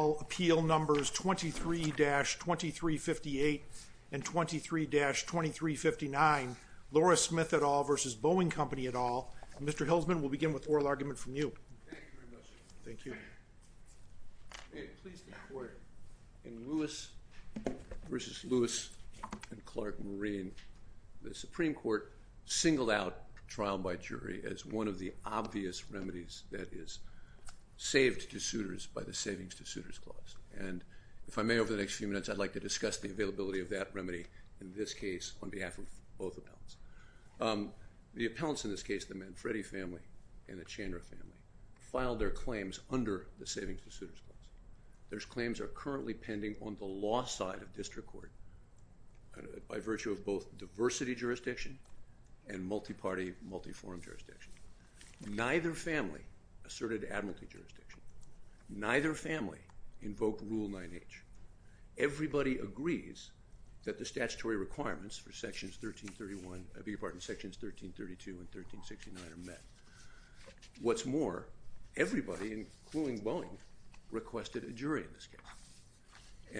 numbers 23-2358 and 23-2359. Laura Smith et al. versus Boeing Company et al. Mr. Hilsman will begin with oral argument from you. Thank you. In Lewis v. Lewis and Clark Marine, the Supreme Court singled out trial by jury as one of the obvious remedies that is saved to suitors by the Savings to Suitors Clause. And if I may, over the next few minutes I'd like to discuss the availability of that remedy in this case on behalf of both appellants. The appellants in this case, the Manfredi family and the Chandra family, filed their claims under the Savings to Suitors Clause. Their claims are currently pending on the law side of district court by virtue of both diversity jurisdiction and multi-party multi-forum jurisdiction. Neither family asserted admiralty jurisdiction. Neither family invoked Rule 9H. Everybody agrees that the statutory requirements for Sections 1332 and 1369 are met. What's more, everybody, including Boeing, requested a jury in this case.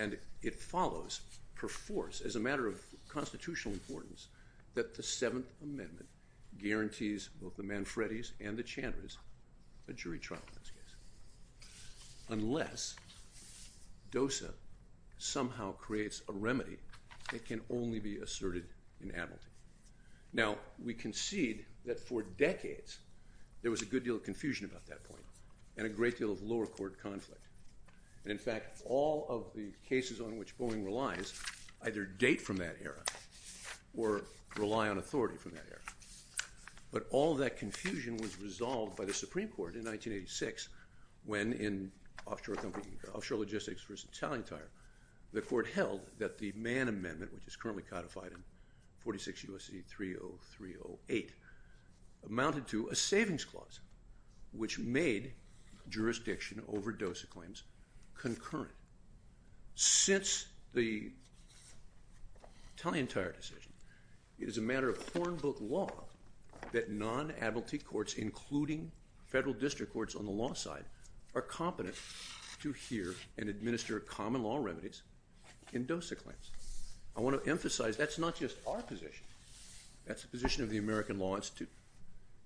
And it follows, per force, as a matter of constitutional importance, that the Seventh Amendment guarantees both the Manfredis and the Chandras a jury trial in this case. Unless DOSA somehow creates a remedy that can only be asserted in admiralty. Now, we concede that for decades there was a good deal of confusion about that point and a great deal of lower court conflict. In fact, all of the cases on which Boeing relies either date from that era or rely on authority from that era. But all that confusion was resolved by the Supreme Court in 1986 when, in offshore logistics versus tally tire, the court held that the Mann Amendment, which is currently codified in 46 U.S.C. 30308, amounted to a Savings Clause, which made jurisdiction over DOSA claims concurrent. Since the tally and tire decision, it is a matter of hornbook law that non-admiralty courts, including federal district courts on the law side, are competent to hear and administer common law remedies in DOSA claims. I want to emphasize that's not just our position. That's the position of the American Law Institute.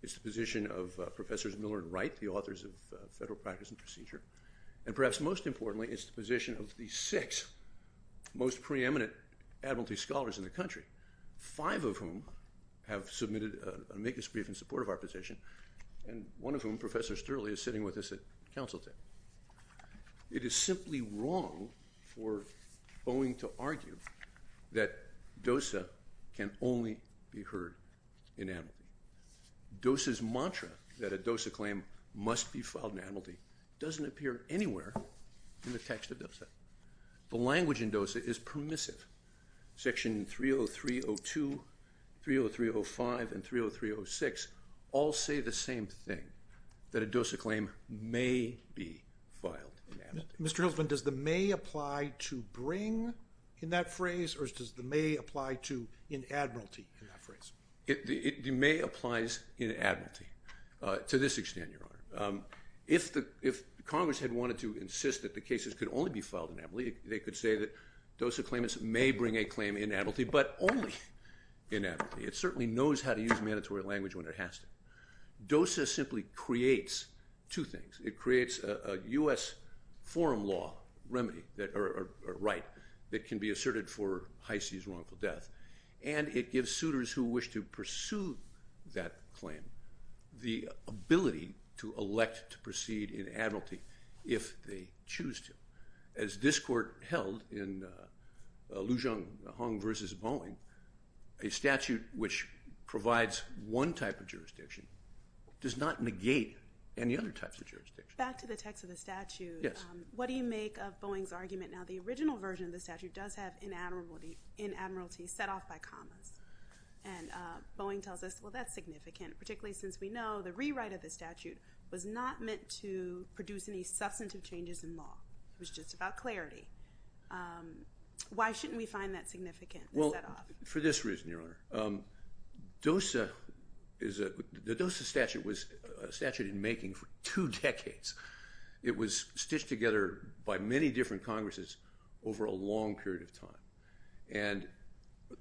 It's the position of Professors Miller and Wright, the authors of Federal Practice and Procedure. And perhaps most importantly, it's the position of the six most preeminent admiralty scholars in the country, five of whom have submitted an amicus brief in support of our position, and one of whom, Professor Sterling, is sitting with us at counsel table. It is simply wrong for Boeing to argue that DOSA can only be heard in admiralty. DOSA's mantra that a DOSA claim must be filed in admiralty doesn't appear anywhere in the text of DOSA. The language in DOSA is permissive. Section 30302, 30305, and 30306 all say the same thing, that a DOSA claim may be filed. Mr. Hiltzman, does the may apply to bring in that phrase, or does the may apply to in admiralty in this case? It may apply in admiralty, to this extent, Your Honor. If Congress had wanted to insist that the cases could only be filed in admiralty, they could say that DOSA claimants may bring a claim in admiralty, but only in admiralty. It certainly knows how to use mandatory language when it has to. DOSA simply creates two things. It creates a U.S. forum law remedy, or right, that can be sued that claim. The ability to elect to proceed in admiralty if they choose to. As this court held in Lujang Hong versus Boeing, a statute which provides one type of jurisdiction does not negate any other types of jurisdiction. Back to the text of the statute. Yes. What do you make of Boeing's argument now the original version of the statute does have in admiralty set off by Boeing tells us, well that's significant, particularly since we know the rewrite of the statute was not meant to produce any substantive changes in law. It was just about clarity. Why shouldn't we find that significant? Well, for this reason, Your Honor. DOSA is a, the DOSA statute was a statute in making for two decades. It was stitched together by many different Congresses over a long period of time, and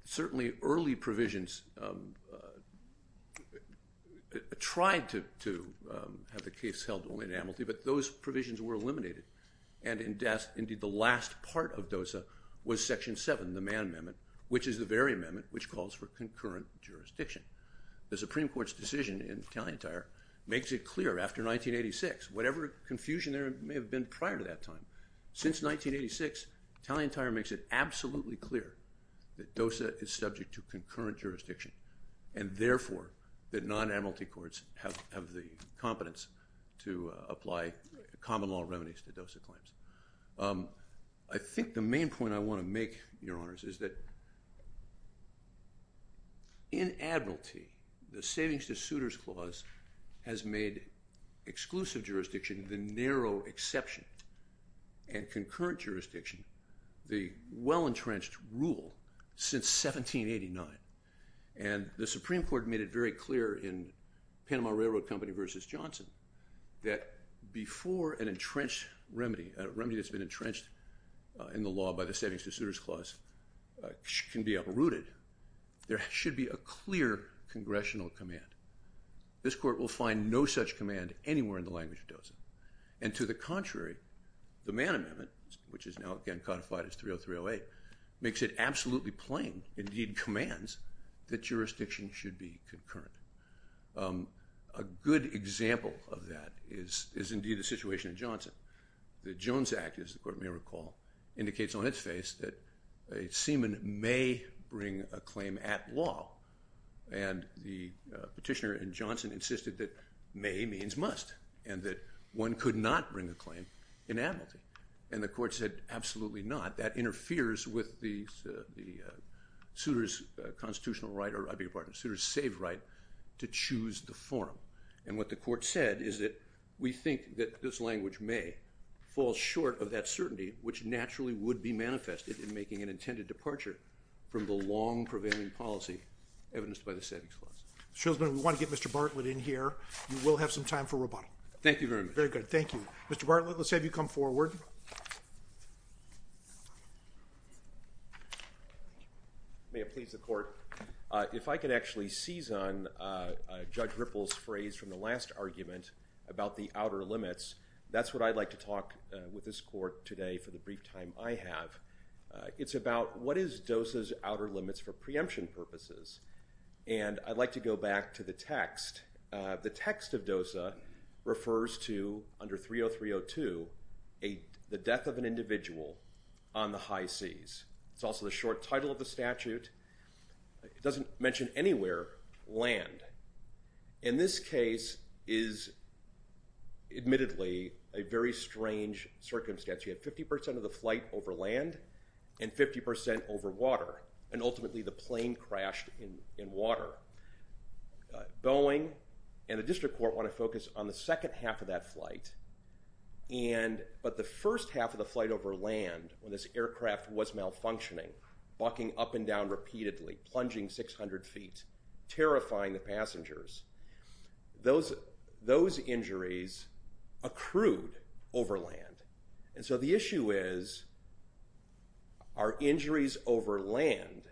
certainly early provisions tried to have the case held only in admiralty, but those provisions were eliminated, and indeed the last part of DOSA was Section 7, the man amendment, which is the very amendment which calls for concurrent jurisdiction. The Supreme Court's decision in Tallentire makes it clear after 1986, whatever confusion there may have been prior to that time, since 1986, Tallentire makes it clear that there is concurrent jurisdiction, and therefore that non-admiralty courts have the competence to apply common law remedies to DOSA claims. I think the main point I want to make, Your Honors, is that in admiralty, the savings to suitors clause has made exclusive jurisdiction the narrow exception, and concurrent jurisdiction, the well-entrenched rule since 1789, and the Supreme Court made it very clear in Panama Railroad Company versus Johnson that before an entrenched remedy, a remedy that's been entrenched in the law by the savings to suitors clause can be uprooted, there should be a clear congressional command. This court will find no such command anywhere in the language of DOSA, and to the contrary, the man amendment, which is now again makes it absolutely plain, indeed commands, that jurisdiction should be concurrent. A good example of that is indeed the situation in Johnson. The Jones Act, as the court may recall, indicates on its face that a seaman may bring a claim at law, and the petitioner in Johnson insisted that may means must, and that one could not bring a claim in admiralty, and the court said absolutely not, that interferes with the suitors constitutional right, or I beg your pardon, suitors save right to choose the forum, and what the court said is that we think that this language may fall short of that certainty, which naturally would be manifested in making an intended departure from the long-prevailing policy evidenced by the savings clause. Shilsman, we want to get Mr. Bartlett in here, you will have some time for rebuttal. Thank you very much. Very good, thank you. Mr. Bartlett, let's have you come forward. May it please the court, if I could actually seize on Judge Ripple's phrase from the last argument about the outer limits, that's what I'd like to talk with this court today for the brief time I have. It's about what is DOSA's outer limits for preemption purposes, and I'd like to go back to the text. The text of DOSA refers to, under 30302, the death of an individual on the high seas. It's also the short title of the statute. It doesn't mention anywhere land. In this case is admittedly a very strange circumstance. You have 50% of the flight over land, and 50% over water, and Boeing and the district court want to focus on the second half of that flight, but the first half of the flight over land, when this aircraft was malfunctioning, bucking up and down repeatedly, plunging 600 feet, terrifying the passengers, those injuries accrued over land. And so the issue is, are we raising the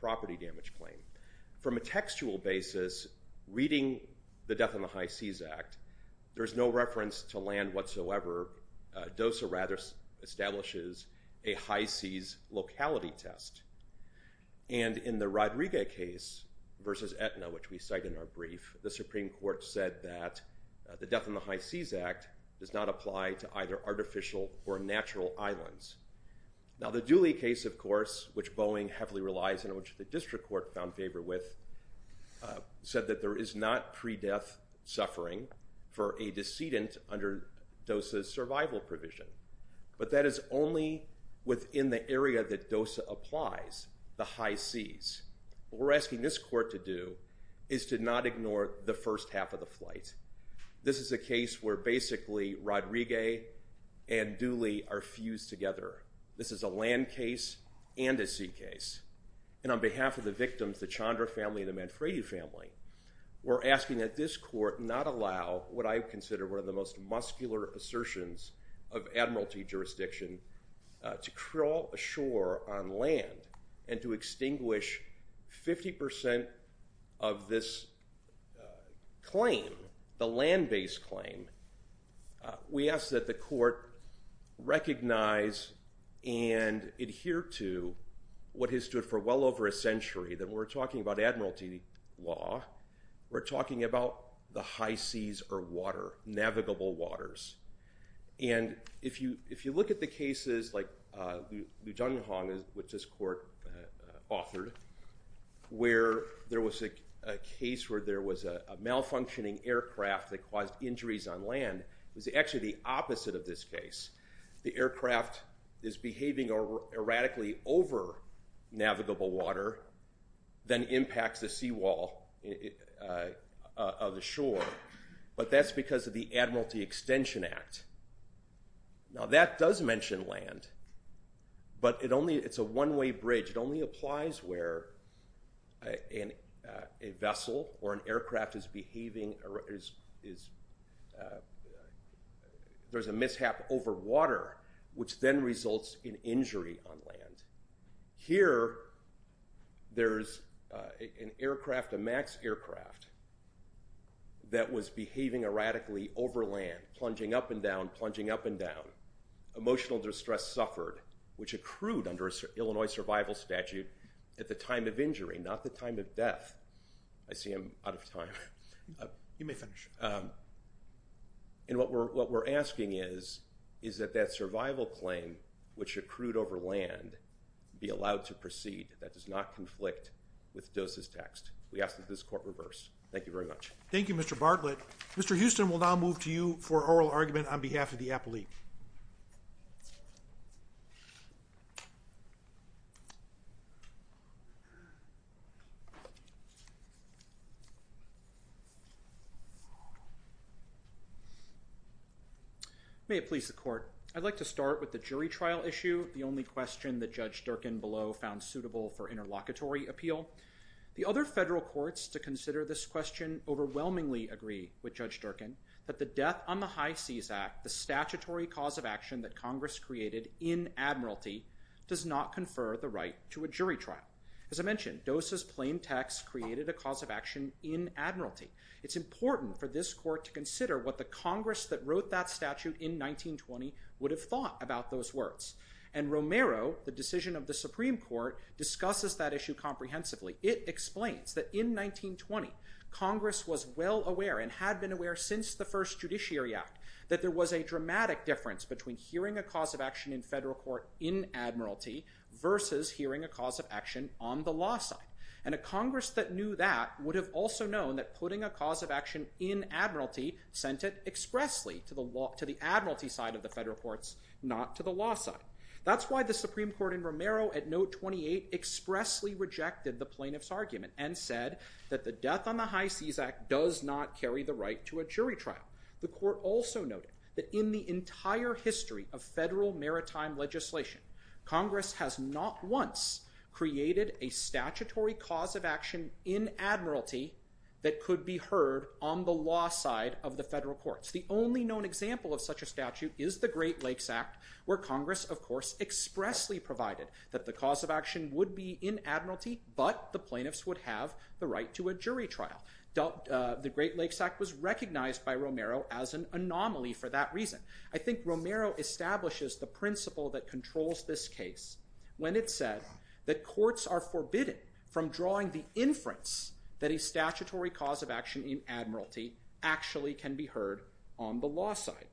property damage claim? From a textual basis, reading the Death on the High Seas Act, there's no reference to land whatsoever. DOSA rather establishes a high seas locality test. And in the Rodriguez case versus Aetna, which we cite in our brief, the Supreme Court said that the Death on the High Seas Act does not apply to either artificial or natural islands. Now the heavily relies on which the district court found favor with said that there is not pre-death suffering for a decedent under DOSA's survival provision. But that is only within the area that DOSA applies, the high seas. What we're asking this court to do is to not ignore the first half of the flight. This is a case where basically Rodriguez and Dooley are fused together. This is a land case and a sea case. And on behalf of the victims, the Chandra family, the Manfredi family, we're asking that this court not allow what I consider one of the most muscular assertions of admiralty jurisdiction to crawl ashore on land and to extinguish 50% of this claim, the land-based claim. We ask that the court recognize and adhere to what has stood for well over a century, that we're talking about admiralty law, we're talking about the high seas or water, navigable waters. And if you if you look at the cases like Lujanhong, which this court authored, where there was a case where there was a malfunctioning on land, it was actually the opposite of this case. The aircraft is behaving erratically over navigable water, then impacts the seawall of the shore. But that's because of the Admiralty Extension Act. Now that does mention land, but it only it's a one-way bridge. It only applies where a vessel or an there's a mishap over water, which then results in injury on land. Here there's an aircraft, a MAX aircraft, that was behaving erratically over land, plunging up and down, plunging up and down. Emotional distress suffered, which accrued under a Illinois survival statute at the time of injury, not the time of death. I see I'm out of time. You may finish. And what we're what we're asking is is that that survival claim, which accrued over land, be allowed to proceed. That does not conflict with DOSA's text. We ask that this court reverse. Thank you very much. Thank You Mr. Bartlett. Mr. Houston will now move to you for oral argument on behalf of the appellee. May it please the court. I'd like to start with the jury trial issue, the only question that Judge Durkin below found suitable for interlocutory appeal. The other federal courts to consider this question overwhelmingly agree with Judge Durkin that the death on the High Seas Act, the statutory cause of action that Congress created in Admiralty, does not confer the right to a jury trial. As I noted in the text, created a cause of action in Admiralty. It's important for this court to consider what the Congress that wrote that statute in 1920 would have thought about those words. And Romero, the decision of the Supreme Court, discusses that issue comprehensively. It explains that in 1920 Congress was well aware and had been aware since the first Judiciary Act that there was a dramatic difference between hearing a cause of action in federal court in Admiralty versus hearing a cause of action on the law side. And a Congress that knew that would have also known that putting a cause of action in Admiralty sent it expressly to the law to the Admiralty side of the federal courts, not to the law side. That's why the Supreme Court in Romero at note 28 expressly rejected the plaintiff's argument and said that the death on the High Seas Act does not carry the right to a jury trial. The court also noted that in the entire case, Congress has not once created a statutory cause of action in Admiralty that could be heard on the law side of the federal courts. The only known example of such a statute is the Great Lakes Act, where Congress of course expressly provided that the cause of action would be in Admiralty, but the plaintiffs would have the right to a jury trial. The Great Lakes Act was recognized by Romero as an anomaly for that reason. I think Romero establishes the principle that controls this case when it said that courts are forbidden from drawing the inference that a statutory cause of action in Admiralty actually can be heard on the law side.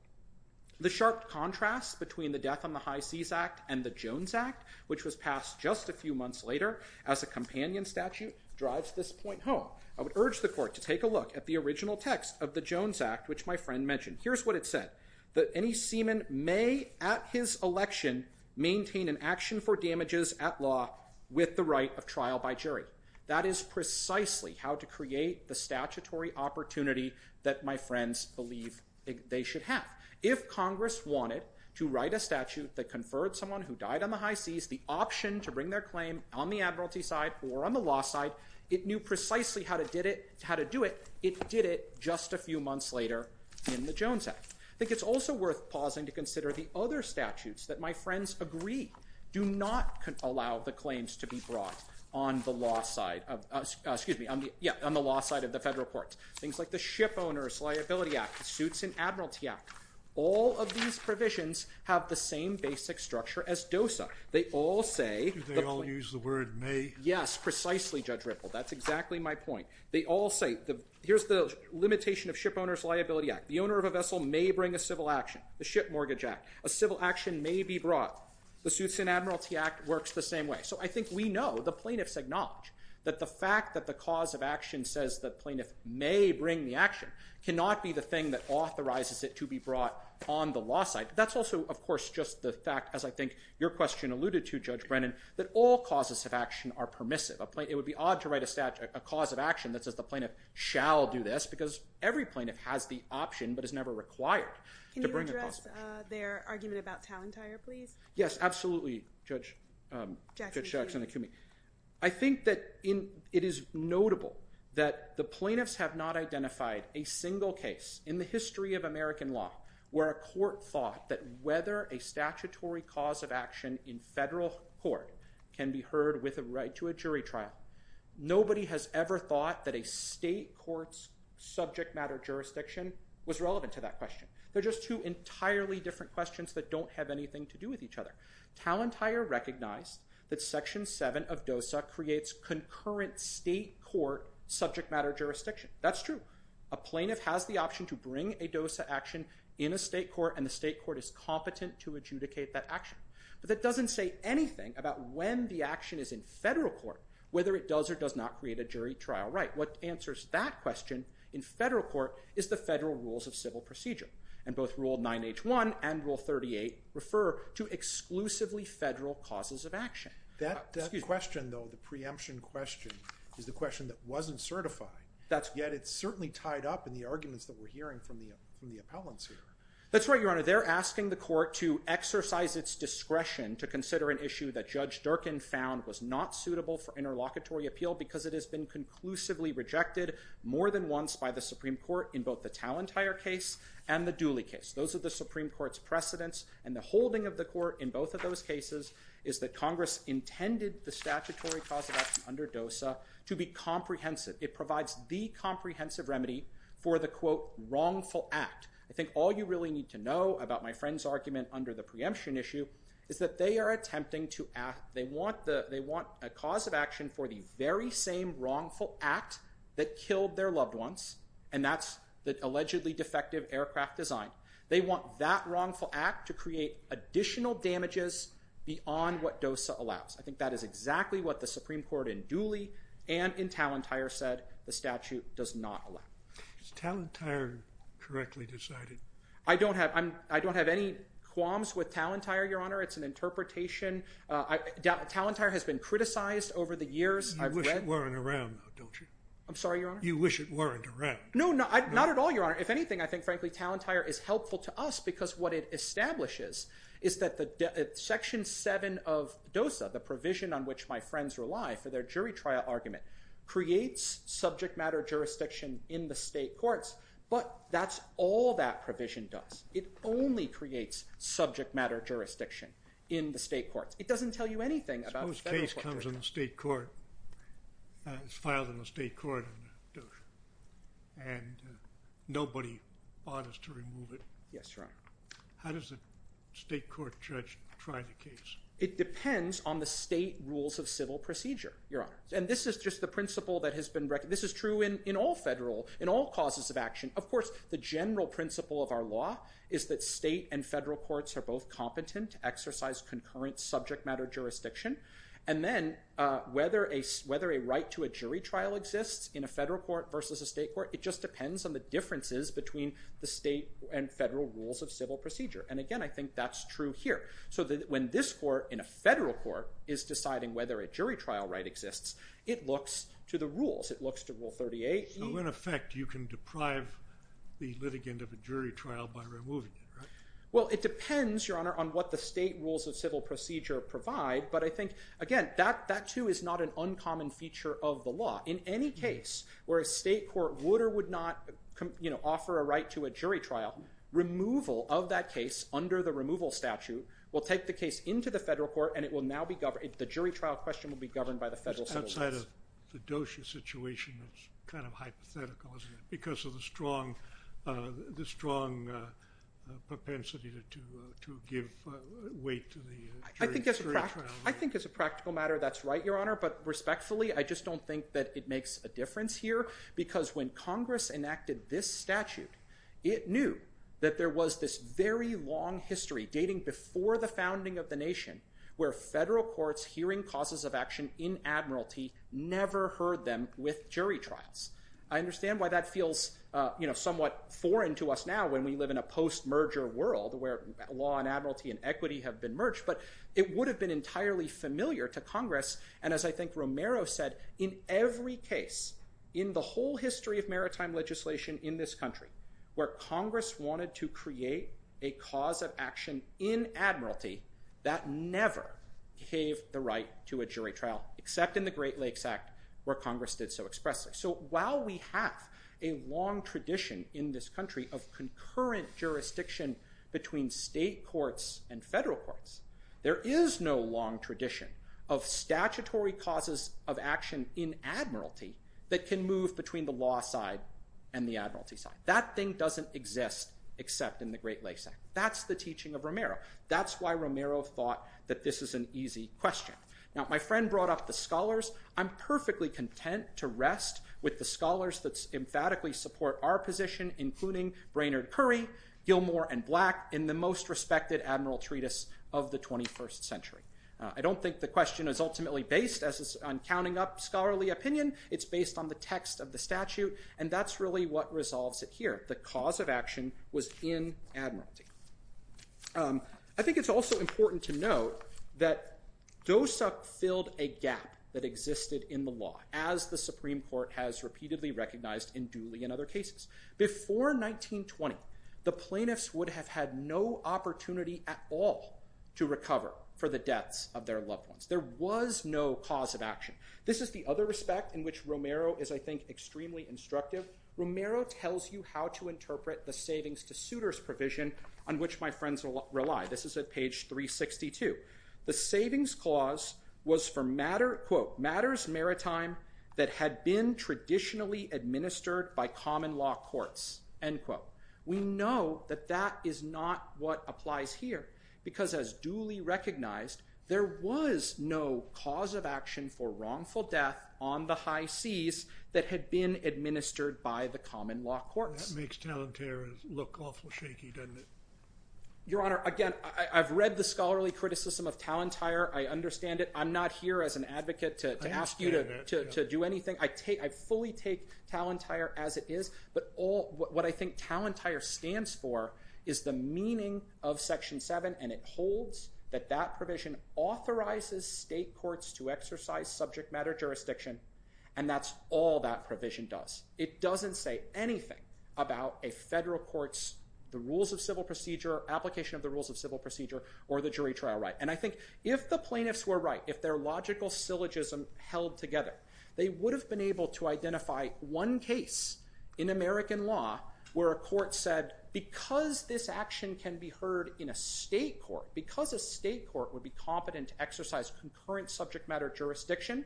The sharp contrast between the death on the High Seas Act and the Jones Act, which was passed just a few months later as a companion statute, drives this point home. I would urge the court to take a look at the original text of the Jones Act, which my friend mentioned. Here's what it said, that any seaman may at his election maintain an action for damages at law with the right of trial by jury. That is precisely how to create the statutory opportunity that my friends believe they should have. If Congress wanted to write a statute that conferred someone who died on the high seas the option to bring their claim on the Admiralty side or on the law side, it knew precisely how to did it, how to do it. It did it just a few months later in the Jones Act. I think it's also worth pausing to consider the other statutes that my friends agree do not allow the claims to be brought on the law side of excuse me, yeah, on the law side of the federal courts. Things like the Ship Owners Liability Act, the Suits in Admiralty Act, all of these provisions have the same basic structure as DOSA. They all say, they all use the word may, yes, precisely Judge Ripple, that's exactly my point. They all say, here's the vessel may bring a civil action, the Ship Mortgage Act, a civil action may be brought, the Suits in Admiralty Act works the same way. So I think we know, the plaintiffs acknowledge, that the fact that the cause of action says the plaintiff may bring the action cannot be the thing that authorizes it to be brought on the law side. That's also of course just the fact, as I think your question alluded to Judge Brennan, that all causes of action are permissive. It would be odd to write a statute, a cause of action that says the plaintiffs are never required to bring a possible action. Can you address their argument about Talentire, please? Yes, absolutely, Judge Jackson. I think that it is notable that the plaintiffs have not identified a single case in the history of American law where a court thought that whether a statutory cause of action in federal court can be heard with a right to a jury trial. Nobody has ever thought that a question. They're just two entirely different questions that don't have anything to do with each other. Talentire recognized that Section 7 of DOSA creates concurrent state court subject matter jurisdiction. That's true. A plaintiff has the option to bring a DOSA action in a state court and the state court is competent to adjudicate that action. But that doesn't say anything about when the action is in federal court, whether it does or does not create a jury trial right. What answers that question in federal court is the federal rules of civil procedure. And both Rule 9H1 and Rule 38 refer to exclusively federal causes of action. That question though, the preemption question, is the question that wasn't certified. Yet it's certainly tied up in the arguments that we're hearing from the appellants here. That's right, Your Honor. They're asking the court to exercise its discretion to consider an issue that Judge Durkin found was not suitable for interlocutory appeal because it has been conclusively rejected more than once by the Supreme Court in both the Talentire case and the Dooley case. Those are the Supreme Court's precedents and the holding of the court in both of those cases is that Congress intended the statutory cause of action under DOSA to be comprehensive. It provides the comprehensive remedy for the quote wrongful act. I think all you really need to know about my friend's argument under the preemption issue is that they are attempting to ask, they want a cause of action for the very same wrongful act that killed their loved ones, and that's the allegedly defective aircraft design. They want that wrongful act to create additional damages beyond what DOSA allows. I think that is exactly what the Supreme Court in Dooley and in Talentire said the statute does not allow. Is Talentire correctly decided? I don't have any qualms with Talentire, Your Honor. It's an interpretation. Talentire has been criticized over the record. You wish it weren't around, don't you? I'm sorry, Your Honor? You wish it weren't around. No, not at all, Your Honor. If anything, I think frankly Talentire is helpful to us because what it establishes is that the section 7 of DOSA, the provision on which my friends rely for their jury trial argument, creates subject matter jurisdiction in the state courts, but that's all that provision does. It only creates subject matter jurisdiction in the state courts. It is filed in the state court and nobody bothers to remove it. Yes, Your Honor. How does the state court judge try the case? It depends on the state rules of civil procedure, Your Honor, and this is just the principle that has been recognized. This is true in all federal, in all causes of action. Of course, the general principle of our law is that state and federal courts are both competent to exercise concurrent subject matter jurisdiction, and then whether a right to a jury trial exists in a federal court versus a state court, it just depends on the differences between the state and federal rules of civil procedure, and again, I think that's true here. So that when this court in a federal court is deciding whether a jury trial right exists, it looks to the rules. It looks to Rule 38. So in effect, you can deprive the litigant of a jury trial by removing it, right? Well, it depends, Your Honor, on what the state rules of civil procedure provide, but I think, again, that too is not an uncommon feature of the law. In any case where a state court would or would not, you know, offer a right to a jury trial, removal of that case under the removal statute will take the case into the federal court and it will now be governed. The jury trial question will be governed by the federal civil rights. Outside of the Dozier situation, it's kind of a different intensity to give weight to the jury trial. I think as a practical matter, that's right, Your Honor, but respectfully, I just don't think that it makes a difference here because when Congress enacted this statute, it knew that there was this very long history dating before the founding of the nation where federal courts hearing causes of action in admiralty never heard them with jury trials. I understand why that where law and admiralty and equity have been merged, but it would have been entirely familiar to Congress and as I think Romero said, in every case in the whole history of maritime legislation in this country where Congress wanted to create a cause of action in admiralty, that never gave the right to a jury trial except in the Great Lakes Act where Congress did so expressly. So while we have a long tradition in this country of concurrent jurisdiction between state courts and federal courts, there is no long tradition of statutory causes of action in admiralty that can move between the law side and the admiralty side. That thing doesn't exist except in the Great Lakes Act. That's the teaching of Romero. That's why Romero thought that this is an easy question. Now my friend brought up the scholars. I'm perfectly content to rest with the scholars that emphatically support our position including Brainerd Curry, Gilmore, and Black in the most respected admiral treatise of the 21st century. I don't think the question is ultimately based on counting up scholarly opinion. It's based on the text of the statute and that's really what resolves it here. The cause of action was in admiralty. I think it's also important to note that as the Supreme Court has repeatedly recognized in Dooley and other cases, before 1920 the plaintiffs would have had no opportunity at all to recover for the deaths of their loved ones. There was no cause of action. This is the other respect in which Romero is I think extremely instructive. Romero tells you how to interpret the savings to suitors provision on which my friends will rely. This is at page 362. The savings clause was for matter quote matters maritime that had been traditionally administered by common law courts end quote. We know that that is not what applies here because as Dooley recognized there was no cause of action for wrongful death on the high seas that had been administered by the common law courts. That makes Talentire look awful shaky doesn't it? Your honor again I've read the scholarly criticism of Talentire. I understand it. I'm not here as an advocate to ask you to do anything. I fully take Talentire as it is but what I think Talentire stands for is the meaning of section 7 and it holds that that provision authorizes state courts to exercise subject matter jurisdiction and that's all that provision does. It doesn't say anything about a federal court's the rules of civil procedure, application of the rules of civil procedure or the jury trial right. I think if the plaintiffs were right if their logical syllogism held together they would have been able to identify one case in American law where a court said because this action can be heard in a state court because a state court would be competent to exercise concurrent subject matter jurisdiction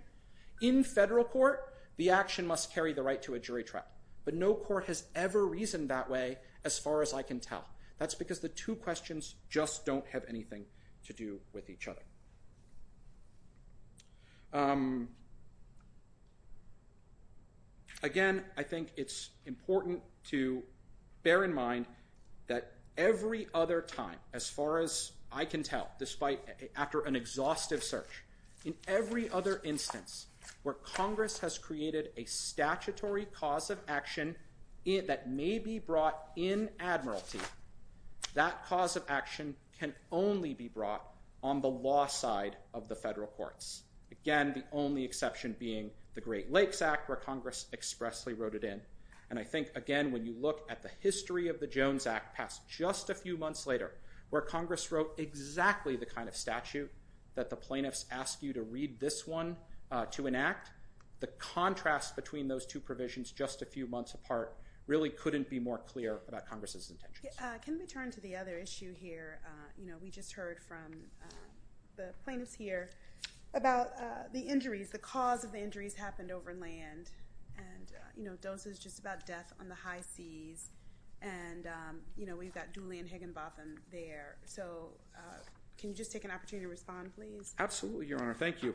in federal court the action must carry the right to a jury trial but no court has ever reasoned that way as far as I can tell. That's because the two questions just don't have anything to do with each other. Again I think it's important to bear in mind that every other time as far as I can tell despite after an exhaustive search in every other instance where Congress has created a statutory cause of action that may be brought in admiralty that cause of action can only be brought on the law side of the federal courts. Again the only exception being the Great Lakes Act where Congress expressly wrote it in and I think again when you look at the history of the Jones Act passed just a few months later where Congress wrote exactly the kind of statute that the plaintiffs ask you to read this one to enact the contrast between those two provisions just a few months apart really couldn't be more clear about Congress's intentions. Can we turn to the other issue here you know we just heard from the plaintiffs here about the injuries the cause of the injuries happened over land and you know those is just about death on the high seas and you know we've got Julian Higginbotham there so can you just take an opportunity to respond please? Absolutely your honor thank you.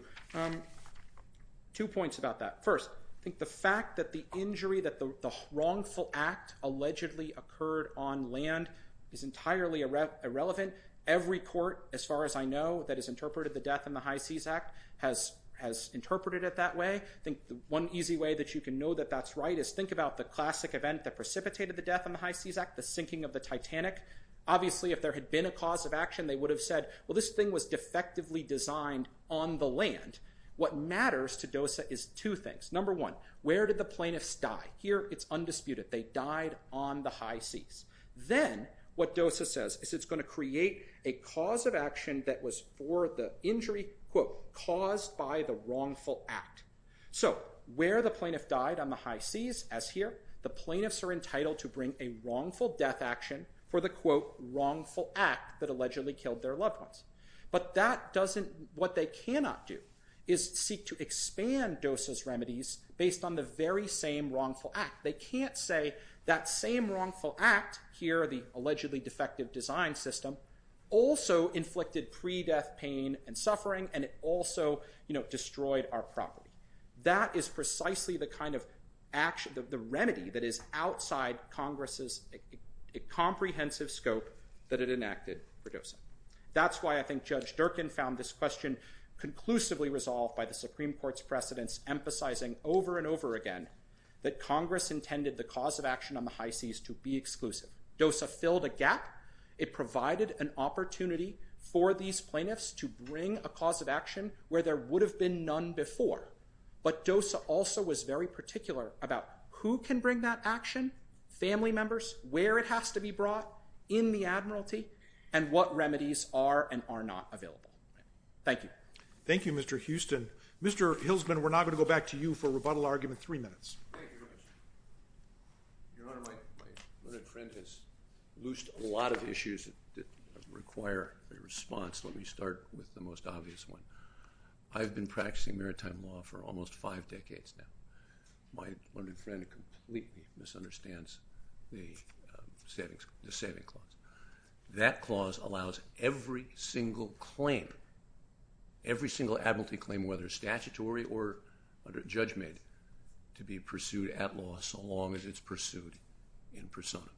Two points about that first I think the fact that the wrongful act allegedly occurred on land is entirely irrelevant every court as far as I know that is interpreted the death in the high seas act has has interpreted it that way. I think the one easy way that you can know that that's right is think about the classic event that precipitated the death in the high seas act the sinking of the Titanic obviously if there had been a cause of action they would have said well this thing was defectively designed on the land what matters to DOSA is two things number one where did the plaintiffs die here it's undisputed they died on the high seas then what DOSA says is it's going to create a cause of action that was for the injury quote caused by the wrongful act so where the plaintiff died on the high seas as here the plaintiffs are entitled to bring a wrongful death action for the quote wrongful act that allegedly killed their loved ones but that doesn't what they cannot do is seek to expand DOSA's remedies based on the very same wrongful act they can't say that same wrongful act here the allegedly defective design system also inflicted pre-death pain and suffering and it also you know destroyed our property that is precisely the kind of action of the remedy that is outside Congress's a comprehensive scope that it enacted for DOSA that's why I think Judge Durkin found this question conclusively resolved by the Supreme Court's precedents emphasizing over and over again that Congress intended the cause of action on the high seas to be exclusive DOSA filled a gap it provided an opportunity for these plaintiffs to bring a cause of action where there would have been none before but DOSA also was very particular about who can bring that action family members where it has to be brought in the Admiralty and what remedies are and are not available thank you thank you Mr. Houston Mr. Hilsman we're not going to go back to you for rebuttal argument three minutes loosed a lot of issues that require a response let me start with the most obvious one I've been practicing maritime law for almost five decades now completely misunderstands the savings the saving clause that clause allows every single claim every single Ability claim whether statutory or under judgment to be pursued at law so long as it's pursued in persona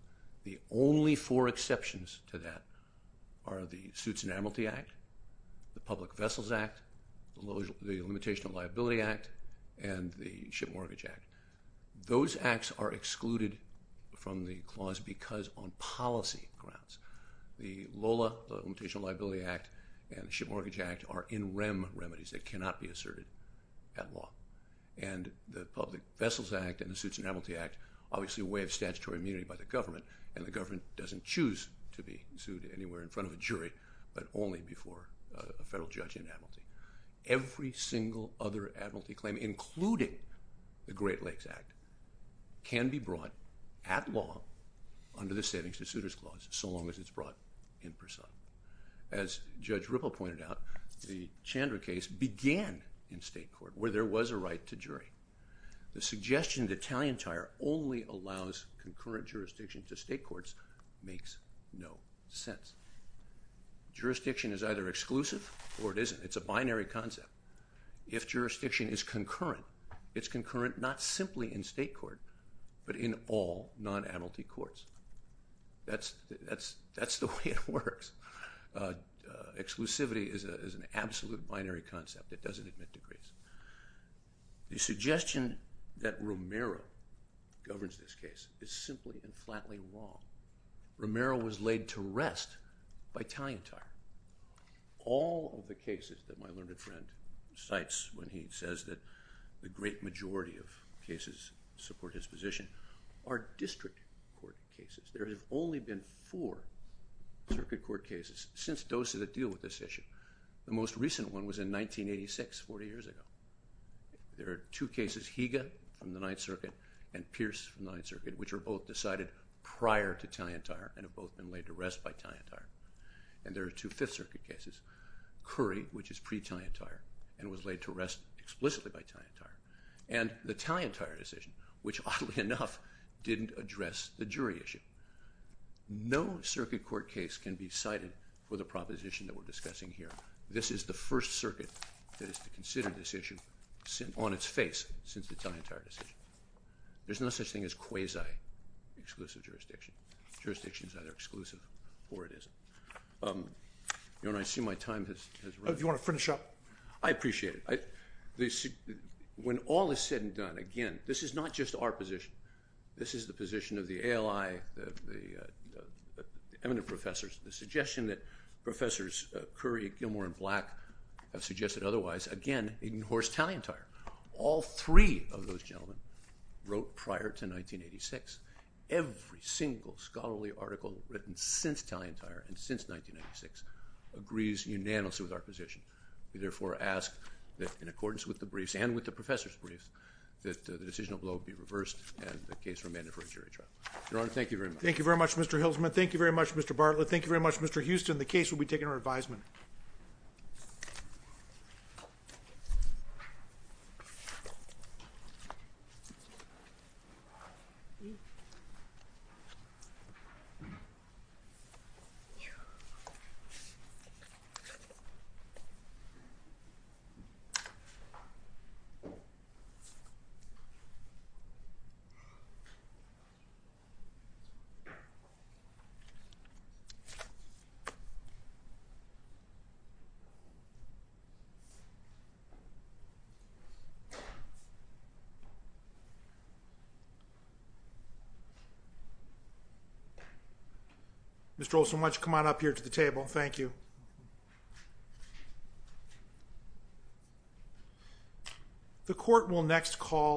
the only four exceptions to that are the suits and Admiralty Act the public vessels act the Limitation of Liability Act and the Ship Mortgage Act those acts are excluded from the clause because on policy grounds the Lola Limitation Liability Act and Ship Mortgage Act are in REM remedies that cannot be asserted at law and the public vessels act and the suits and Admiralty Act obviously a way of statutory immunity by the government and the government doesn't choose to be sued anywhere in front of a jury but only before a federal judge in Admiralty every single other Admiralty claim including the Great Lakes Act can be brought at law under the Savings to Suitors Clause so long as it's brought in person as Judge Ripple pointed out the Chandra case began in state court where there was a right to jury the suggestion the Italian tire only allows concurrent jurisdiction to state courts makes no sense jurisdiction is either exclusive or it isn't it's a binary concept if jurisdiction is concurrent it's concurrent not simply in state court but in all non Admiralty courts that's that's that's the way it works exclusivity is an absolute binary concept that doesn't admit decrees the suggestion that Romero governs this case is simply and flatly wrong Romero was laid to rest by tying tire all of the cases that my learned friend cites when he says that the great majority of cases support his position are district court cases there have only been four circuit court cases since doses that deal with this issue the most recent one was in 1986 40 years ago there are two cases Higa from the Ninth Circuit and Pierce from the Ninth Circuit which are both decided prior to tie entire and have both been laid to rest by tying tire and there are two Fifth Circuit cases curry which is pre tie entire and was laid to rest explicitly by tying tire and the Italian tire decision which oddly enough didn't address the jury issue no circuit court case can be cited for the proposition that we're discussing here this is the first circuit that is to consider this issue since on its face since the time entire decision there's no such thing as quasi exclusive jurisdiction jurisdictions either exclusive or it isn't you know and I see my time has you want to finish up I appreciate it I they see when all is said and done again this is not just our position this is the position of the ally the eminent professors the suggestion that professors curry Gilmore and black have suggested otherwise again in horse talion tire all three of those gentlemen wrote prior to 1986 every single scholarly article written since talion tire and since 1996 agrees unanimously with our position we therefore ask that in accordance with the briefs and with the professor's briefs that the decisional blow be reversed and the case remanded for a jury trial your honor thank you very much thank you very much mr. Hilsman thank you very much mr. Bartlett thank you very much mr. Houston the case will be taken our advisement you mr. Olson why don't you come on up here to the table thank you the court will next call